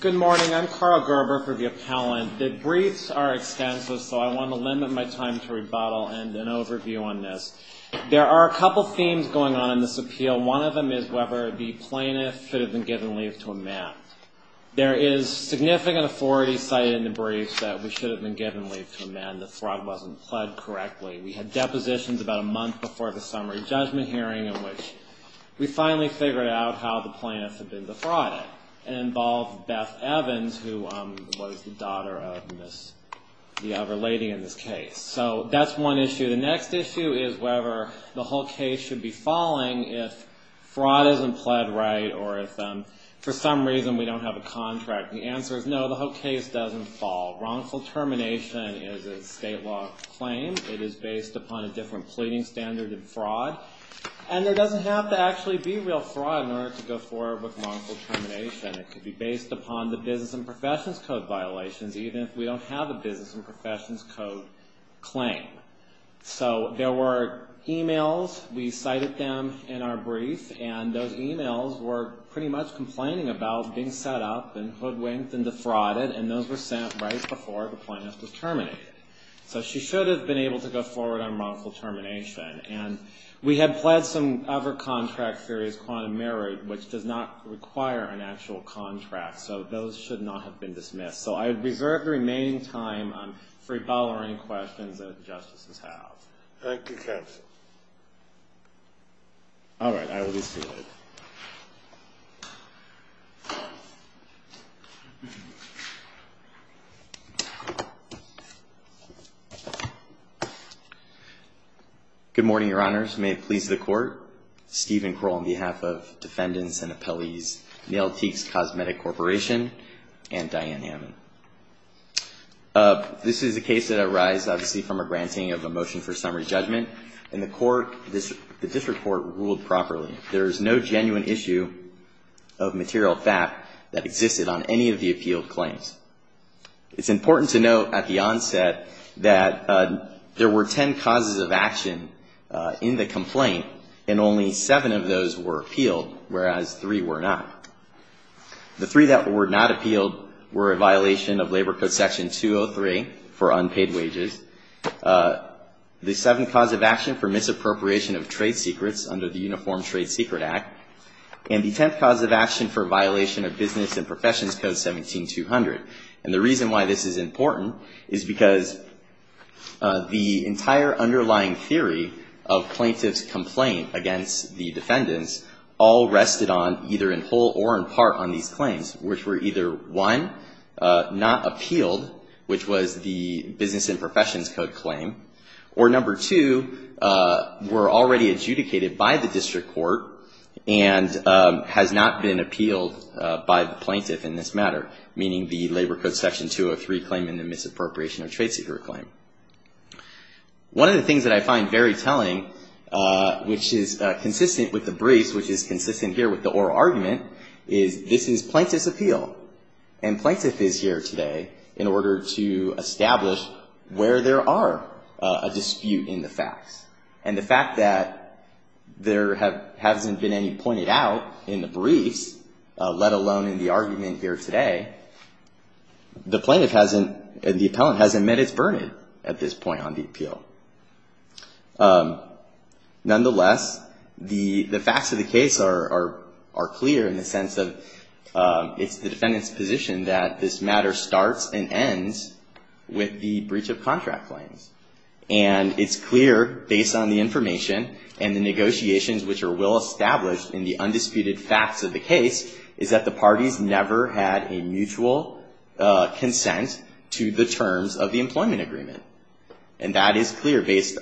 Good morning. I'm Carl Gerber for the Appellant. The briefs are extensive, so I want to limit my time to rebuttal and an overview on this. There are a couple themes going on in this appeal. One of them is whether the plaintiff should have been given leave to amend. There is significant authority cited in the brief that we should have been given leave to amend. The fraud wasn't pled correctly. We had depositions about a month before the summary judgment hearing in which we finally figured out how the plaintiff had been defrauded. It involved Beth Evans, who was the daughter of the other lady in this case. So that's one issue. The next issue is whether the whole case should be falling if fraud isn't pled right or if for some reason we don't have a contract. The answer is no, the whole case doesn't fall. Wrongful termination is a state law claim. It is based upon a different pleading standard than fraud, and there doesn't have to actually be real fraud in order to go forward with wrongful termination. It could be based upon the business and professions code violations, even if we don't have a business and professions code claim. So there were emails. We cited them in our brief, and those emails were pretty much complaining about being set up and hoodwinked and defrauded, and those were sent right before the plaintiff was terminated. So she should have been able to go forward on wrongful termination. And we had pled some other contract theories, quantum merit, which does not require an actual contract, so those should not have been dismissed. So I reserve the remaining time for any follow-up questions that the justices have. Thank you, counsel. All right, I will be seated. Good morning, your honors. May it please the court. Stephen Kroll on behalf of defendants and appellees, Nail Teaks Cosmetic Corporation, and Diane Hammond. This is a case that arises, obviously, from a granting of a motion for summary judgment, and the court, the district court ruled properly. There is no genuine issue of material fact that existed on any of the appealed claims. It's important to note at the onset that there were ten causes of action in the complaint, and only seven of those were appealed, whereas three were not. The three that were not appealed were a violation of Labor Code Section 203 for unpaid wages, the seventh cause of action for misappropriation of trade secrets under the Uniform Trade Secret Act, and the tenth cause of action for violation of Business and Professions Code 17-200. And the reason why this is important is because the entire underlying theory of plaintiff's complaint against the defendants all rested on either in whole or in part on these claims, which were either, one, not appealed, which was the Business and Professions Code claim, or number two, were already adjudicated by the district court and has not been appealed by the plaintiff in this matter, meaning the Labor Code Section 203 claim and the misappropriation of trade secret claim. One of the things that I find very telling, which is consistent with the briefs, which is consistent here with the oral argument, is this is plaintiff's appeal, and plaintiff is here today in order to establish where there are a dispute in the facts. And the fact that there hasn't been any pointed out in the briefs, let alone in the argument here today, the plaintiff hasn't, the appellant hasn't met its burden at this point on the appeal. Nonetheless, the facts of the case are clear in the sense of it's the defendant's position that this matter starts and ends with the breach of contract claims. And it's clear, based on the information and the negotiations which are well established in the undisputed facts of the case, is that the parties never had a mutual consent to the terms of the employment agreement. And that is clear based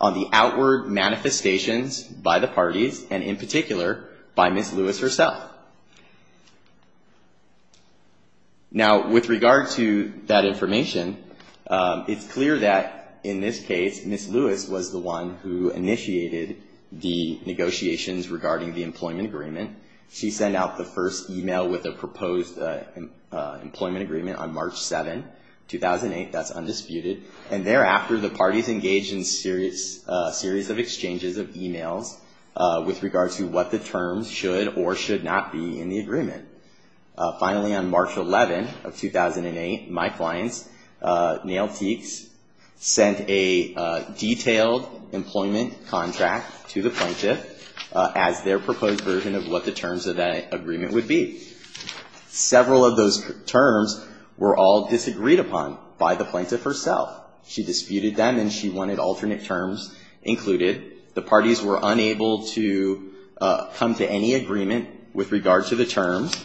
on the outward manifestations by the parties, and in particular, by Ms. Lewis herself. Now, with regard to that information, it's clear that in this case, Ms. Lewis was the one who initiated the negotiations regarding the first email with a proposed employment agreement on March 7, 2008. That's undisputed. And thereafter, the parties engaged in a series of exchanges of emails with regard to what the terms should or should not be in the agreement. Finally, on March 11 of 2008, my clients, Nailteeks, sent a detailed employment contract to the plaintiff as their proposed version of what the terms of that agreement would be. Several of those terms were all disagreed upon by the plaintiff herself. She disputed them, and she wanted alternate terms included. The parties were unable to come to any agreement with regard to the terms.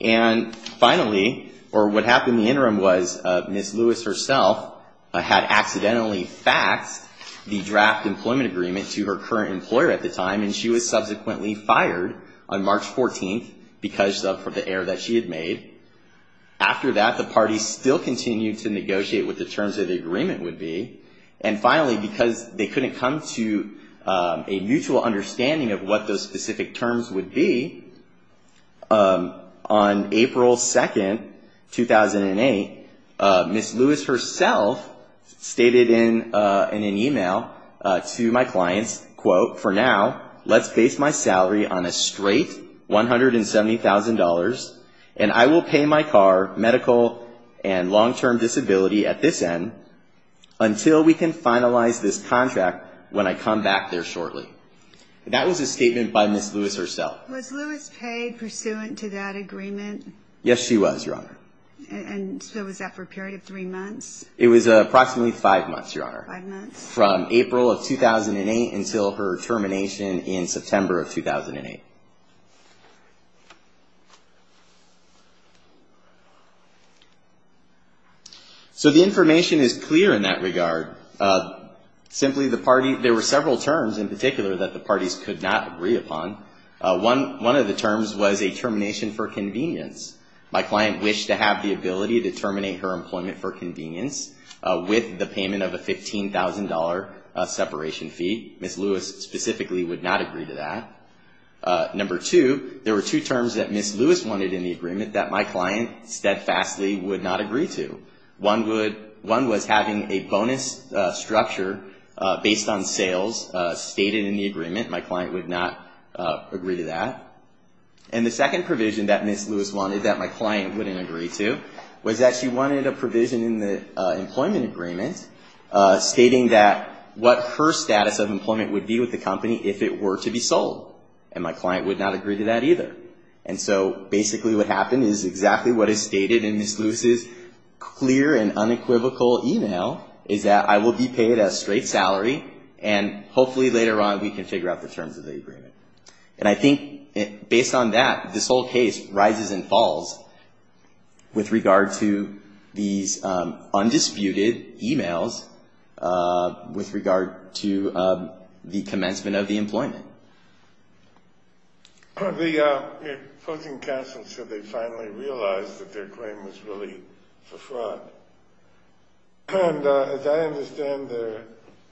And finally, or what happened in the interim was, Ms. Lewis herself had accidentally faxed the draft employment agreement to her current employer at the time, and she was subsequently fired on March 14 because of the error that she had made. After that, the parties still continued to negotiate what the terms of the agreement would be. And finally, because they couldn't come to a mutual understanding of what those specific terms would be, on April 2, 2008, Ms. Lewis herself stated in an email to my clients, quote, for now, let's base my salary on a straight $170,000, and I will pay my car, medical, and long-term disability at this end until we can finalize this contract when I come back there shortly. That was a statement by Ms. Lewis herself. Was Lewis paid pursuant to that agreement? Yes, she was, Your Honor. And so was that for a period of three months? It was approximately five months, Your Honor. Five months. From April of 2008 until her termination in September of 2008. So the information is clear in that regard. Simply, there were several terms in particular that the parties could not agree upon. One of the terms was a termination for convenience. My client wished to have the ability to terminate her employment for convenience with the payment of a $15,000 separation fee. Ms. Lewis specifically would not agree to that. Number two, there were two terms that Ms. Lewis wanted in the agreement that my client steadfastly would not agree to. One was having a bonus structure based on sales stated in the agreement. My client would not agree to that. And the second provision that Ms. Lewis wanted that my client wouldn't agree to was that she wanted a provision in the employment agreement stating that what her status of employment would be with the company if it were to be sold. And my client would not agree to that either. And so basically what happened is exactly what is stated in Ms. Lewis's clear and unequivocal email is that I will be paid a straight salary and hopefully later on we can figure out the terms of the agreement. And I think based on that, this whole case rises and falls with regard to these undisputed emails with regard to the commencement of the employment. The opposing counsel said they finally realized that their claim was really for fraud. And as I understand their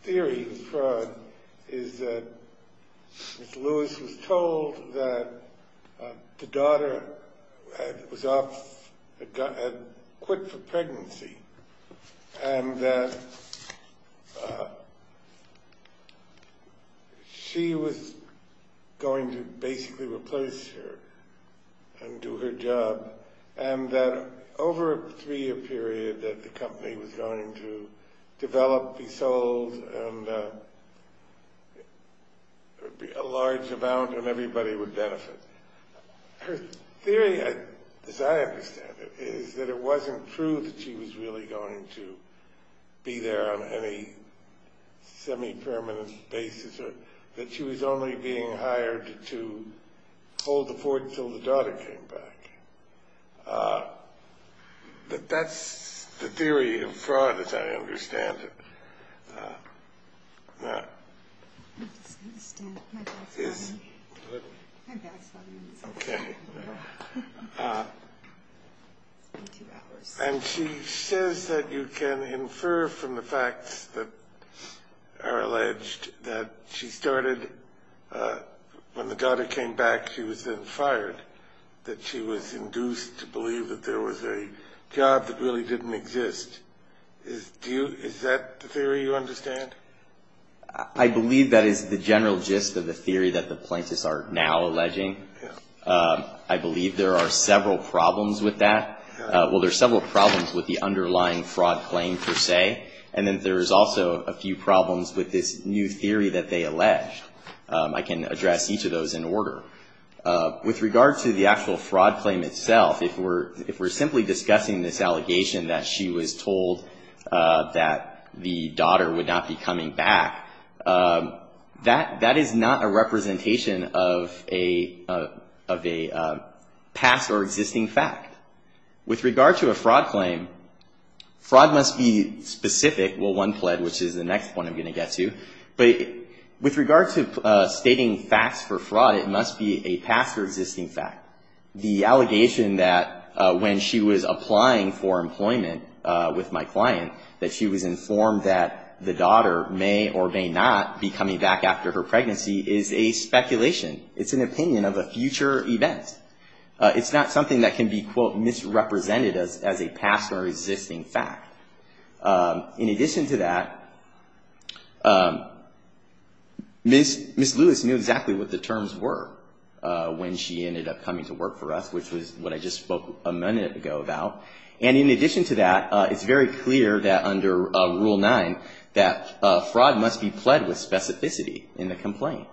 theory of fraud is that Ms. Lewis was told that the daughter had quit for pregnancy and that she was going to basically replace her and do her job and that over a three year period that the company was going to develop, be sold, and there would be a large amount and everybody would benefit. Her theory, as I understand it, is that it wasn't true that she was really going to be there on any semi-permanent basis or that she was only being hired to hold the fort until the daughter came back. But that's the theory of fraud as I understand it. And she says that you can infer from the facts that are alleged that she started when the daughter came back, she was then fired, that she was induced to believe that there was a job that really didn't exist. Is that the theory you understand? I believe that is the general gist of the theory that the plaintiffs are now alleging. I believe there are several problems with that. Well, there are several problems with the underlying fraud claim per se. And then there is also a few problems with this new theory that they allege. I can address each of those in order. With regard to the actual fraud claim itself, if we're simply discussing this allegation that she was told that the daughter would not be coming back, that is not a representation of a past or existing fact. With regard to a fraud claim, fraud must be specific. Well, one pled, which is the next one I'm going to get to. But with regard to stating facts for fraud, it must be a past or existing fact. The allegation that when she was applying for employment with my client that she was informed that the daughter may or may not be coming back after her pregnancy is a speculation. It's an opinion of a future event. It's not something that can be, quote, misrepresented as a past or existing fact. In addition to that, Ms. Lewis knew exactly what the terms were when she ended up coming to work for us, which was what I just spoke a minute ago about. And in addition to that, it's very clear that under Rule 9 that fraud must be pled with specificity in the complaint.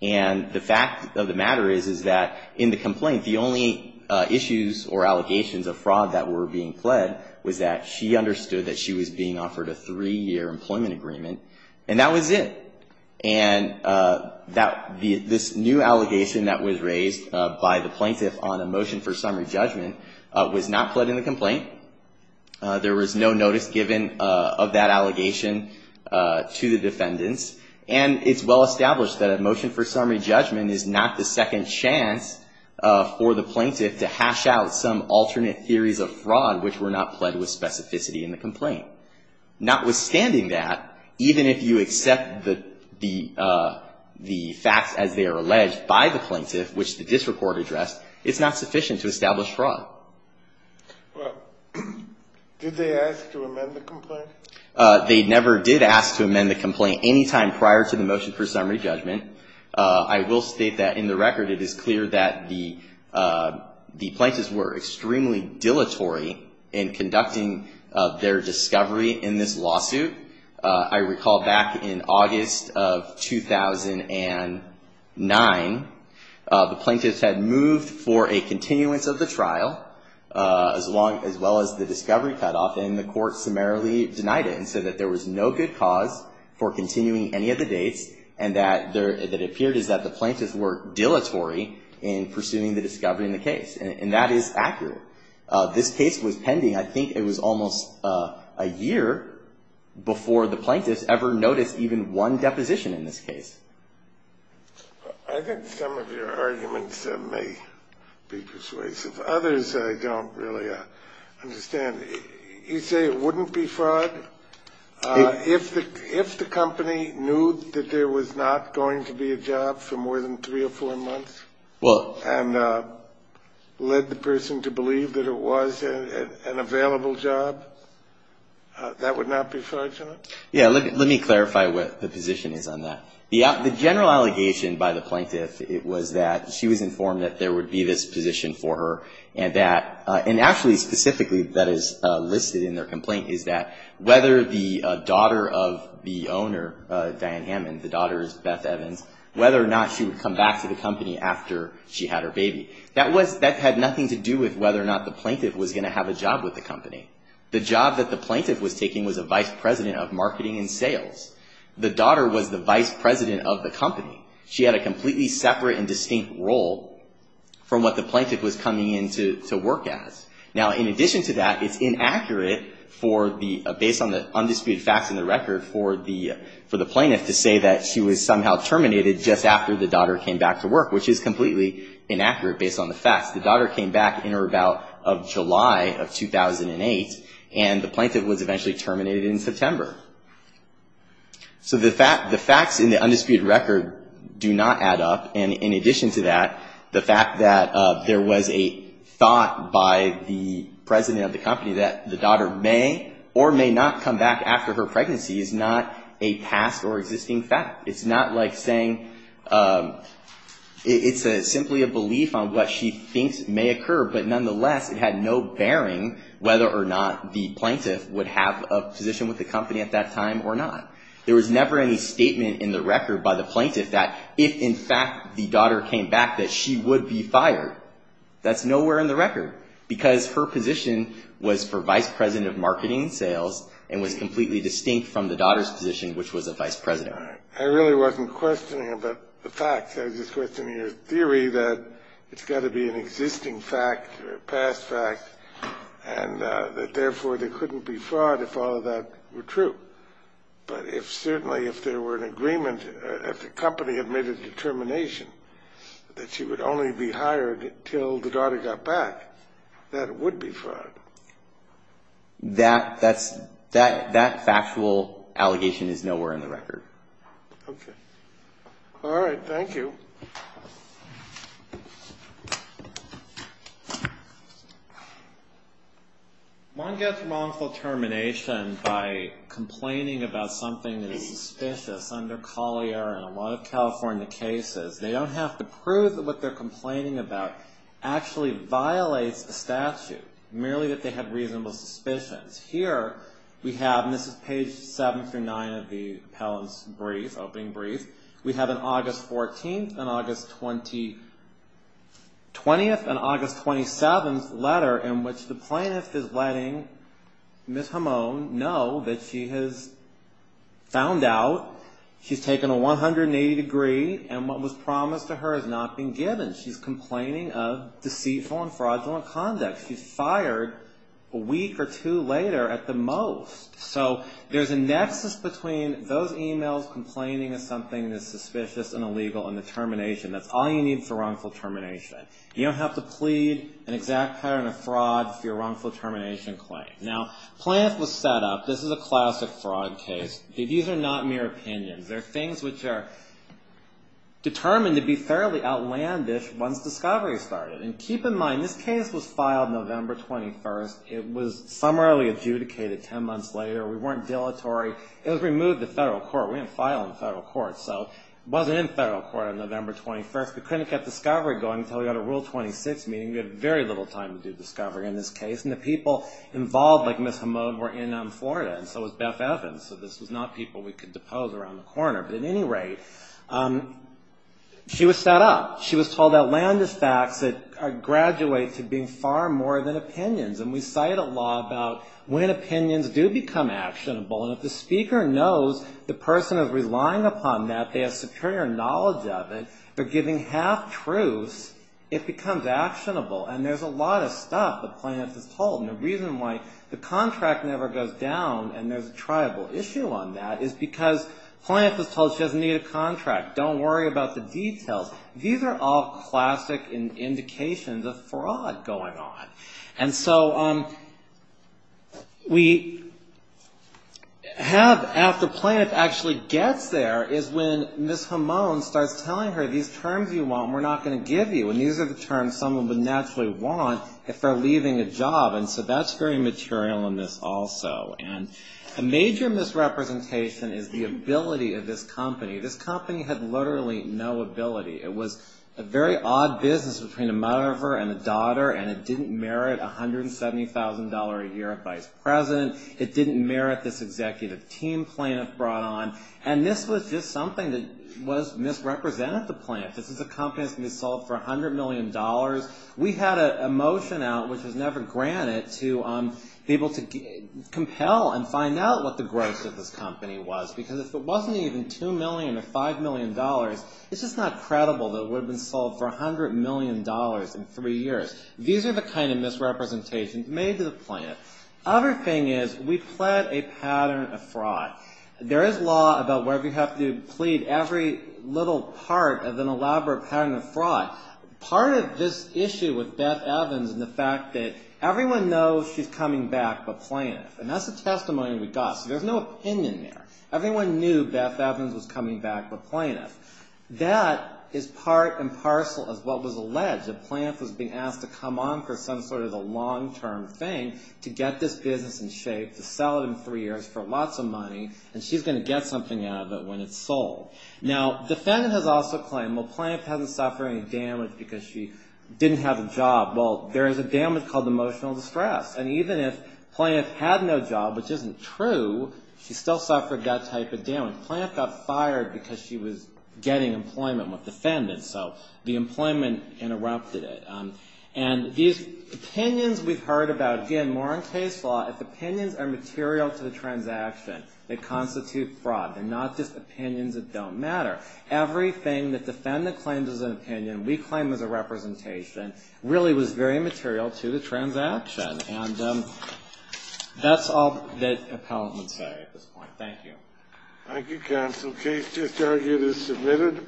And the fact of the matter is, is that in the complaint, the only issues or allegations of fraud that were being pled was that she understood that she was being offered a three-year employment agreement, and that was it. And this new allegation that was raised by the plaintiff on a motion for summary judgment was not pled in the complaint. There was no notice given of that allegation to the defendants. And it's well established that a motion for summary judgment is not the second chance for the plaintiff to hash out some alternate theories of fraud which were not pled with specificity in the complaint. Notwithstanding that, even if you accept the facts as they are alleged by the plaintiff, which the district court addressed, it's not sufficient to establish fraud. They never did ask to amend the complaint any time prior to the motion for summary judgment. I will state that in the record, it is clear that the plaintiffs were extremely dilatory in conducting their discovery in this lawsuit. I recall back in August of 2009, the plaintiffs had moved for a continuance of the trial, as well as the discovery cutoff, and the court summarily denied it and said that there was no good cause for continuing any of the dates, and that it appeared that the plaintiffs were dilatory in pursuing the discovery in the case. And that is accurate. This case was pending, I think it was almost a year before the plaintiffs ever noticed even one deposition in this case. I think some of your arguments may be persuasive. Others I don't really understand. You say it wouldn't be fraud? If the company knew that there was not going to be a job for more than three or four months, and led the person to believe that it was an available job, that would not be fraudulent? Yeah, let me clarify what the position is on that. The general allegation by the plaintiff was that she was informed that there would be this position for her, and actually specifically that is listed in their complaint, is that whether the daughter of the owner, Diane Hammond, the daughter is Beth Evans, whether or not she would come back to the company after she had her baby, that had nothing to do with whether or not the plaintiff was going to have a job with the company. The job that the plaintiff was taking was a vice president of marketing and sales. The daughter was the vice president of the company. She had a completely separate and distinct role from what the plaintiff was coming in to work as. Now, in addition to that, it's inaccurate, based on the undisputed facts in the record, for the plaintiff to say that she was somehow terminated just after the daughter came back to work, which is completely inaccurate based on the facts. The daughter came back in or about July of 2008, and the plaintiff was eventually terminated in September. So the facts in the undisputed record do not add up. And in addition to that, the fact that there was a thought by the president of the company that the daughter may or may not come back after her pregnancy is not a past or existing fact. It's not like saying it's simply a belief on what she thinks may occur, but nonetheless it had no bearing whether or not the plaintiff would have a position with the company at that time or not. There was never any statement in the record by the plaintiff that if, in fact, the daughter came back, that she would be fired. That's nowhere in the record, because her position was for vice president of marketing and sales and was completely distinct from the daughter's position, which was a vice president. I really wasn't questioning about the facts. I was just questioning your theory that it's got to be an existing fact or a past fact, and that therefore there couldn't be fraud if all of that were true. But if certainly if there were an agreement, if the company had made a determination that she would only be hired until the daughter got back, that it would be fraud. That factual allegation is nowhere in the record. Okay. All right. Thank you. One gets wrongful termination by complaining about something that is suspicious. Under Collier and a lot of California cases, they don't have to prove that what they're complaining about actually violates a statute, merely that they have reasonable suspicions. Here we have, and this is page 7 through 9 of the appellant's brief, opening brief, we have an August 14th and August 20th and August 27th letter in which the plaintiff is letting Ms. Hamon know that she has found out, she's taken a 180 degree, and what was promised to her has not been given. She's complaining of deceitful and fraudulent conduct. She's fired a week or two later at the most. So there's a nexus between those emails, complaining of something that's suspicious and illegal, and the termination. That's all you need for wrongful termination. You don't have to plead an exact pattern of fraud for your wrongful termination claim. Now, the plaintiff was set up. This is a classic fraud case. These are not mere opinions. They're things which are determined to be fairly outlandish once discovery started. And keep in mind, this case was filed November 21st. It was summarily adjudicated ten months later. We weren't dilatory. It was removed to federal court. We didn't file in federal court, so it wasn't in federal court on November 21st. We couldn't get discovery going until we got a Rule 26 meeting. We had very little time to do discovery in this case. And the people involved, like Ms. Hamoud, were in Florida, and so was Beth Evans. So this was not people we could depose around the corner. But at any rate, she was set up. She was told outlandish facts that graduate to being far more than opinions. And we cite a law about when opinions do become actionable. And if the speaker knows the person is relying upon that, they have superior knowledge of it, they're giving half-truths, it becomes actionable. And there's a lot of stuff that Planoff is told. And the reason why the contract never goes down and there's a tribal issue on that is because Planoff is told she doesn't need a contract. Don't worry about the details. These are all classic indications of fraud going on. And so we have, after Planoff actually gets there, is when Ms. Hamoud starts telling her, we're not going to give you. And these are the terms someone would naturally want if they're leaving a job. And so that's very material in this also. And a major misrepresentation is the ability of this company. This company had literally no ability. It was a very odd business between a mother and a daughter, and it didn't merit $170,000 a year of vice president. It didn't merit this executive team Planoff brought on. And this was just something that misrepresented the Planoffs. This is a company that's going to be sold for $100 million. We had a motion out, which was never granted, to be able to compel and find out what the gross of this company was. Because if it wasn't even $2 million or $5 million, it's just not credible that it would have been sold for $100 million in three years. These are the kind of misrepresentations made to the Planoffs. Other thing is, we pled a pattern of fraud. There is law about whether you have to plead every little part of an elaborate pattern of fraud. Part of this issue with Beth Evans and the fact that everyone knows she's coming back but Planoff. And that's the testimony we got. So there's no opinion there. Everyone knew Beth Evans was coming back but Planoff. That is part and parcel of what was alleged. Planoff was being asked to come on for some sort of a long-term thing to get this business in shape, to sell it in three years for lots of money. And she's going to get something out of it when it's sold. Now, defendant has also claimed, well, Planoff hasn't suffered any damage because she didn't have a job. Well, there is a damage called emotional distress. And even if Planoff had no job, which isn't true, she still suffered that type of damage. Planoff got fired because she was getting employment with defendants. So the employment interrupted it. And these opinions we've heard about, again, more in case law, if opinions are material to the transaction, they constitute fraud. They're not just opinions that don't matter. Everything that defendant claims as an opinion, we claim as a representation, really was very material to the transaction. And that's all that appellant would say at this point. Thank you. Thank you, counsel. Case just argued is submitted.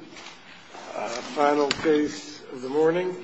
Final case of the morning.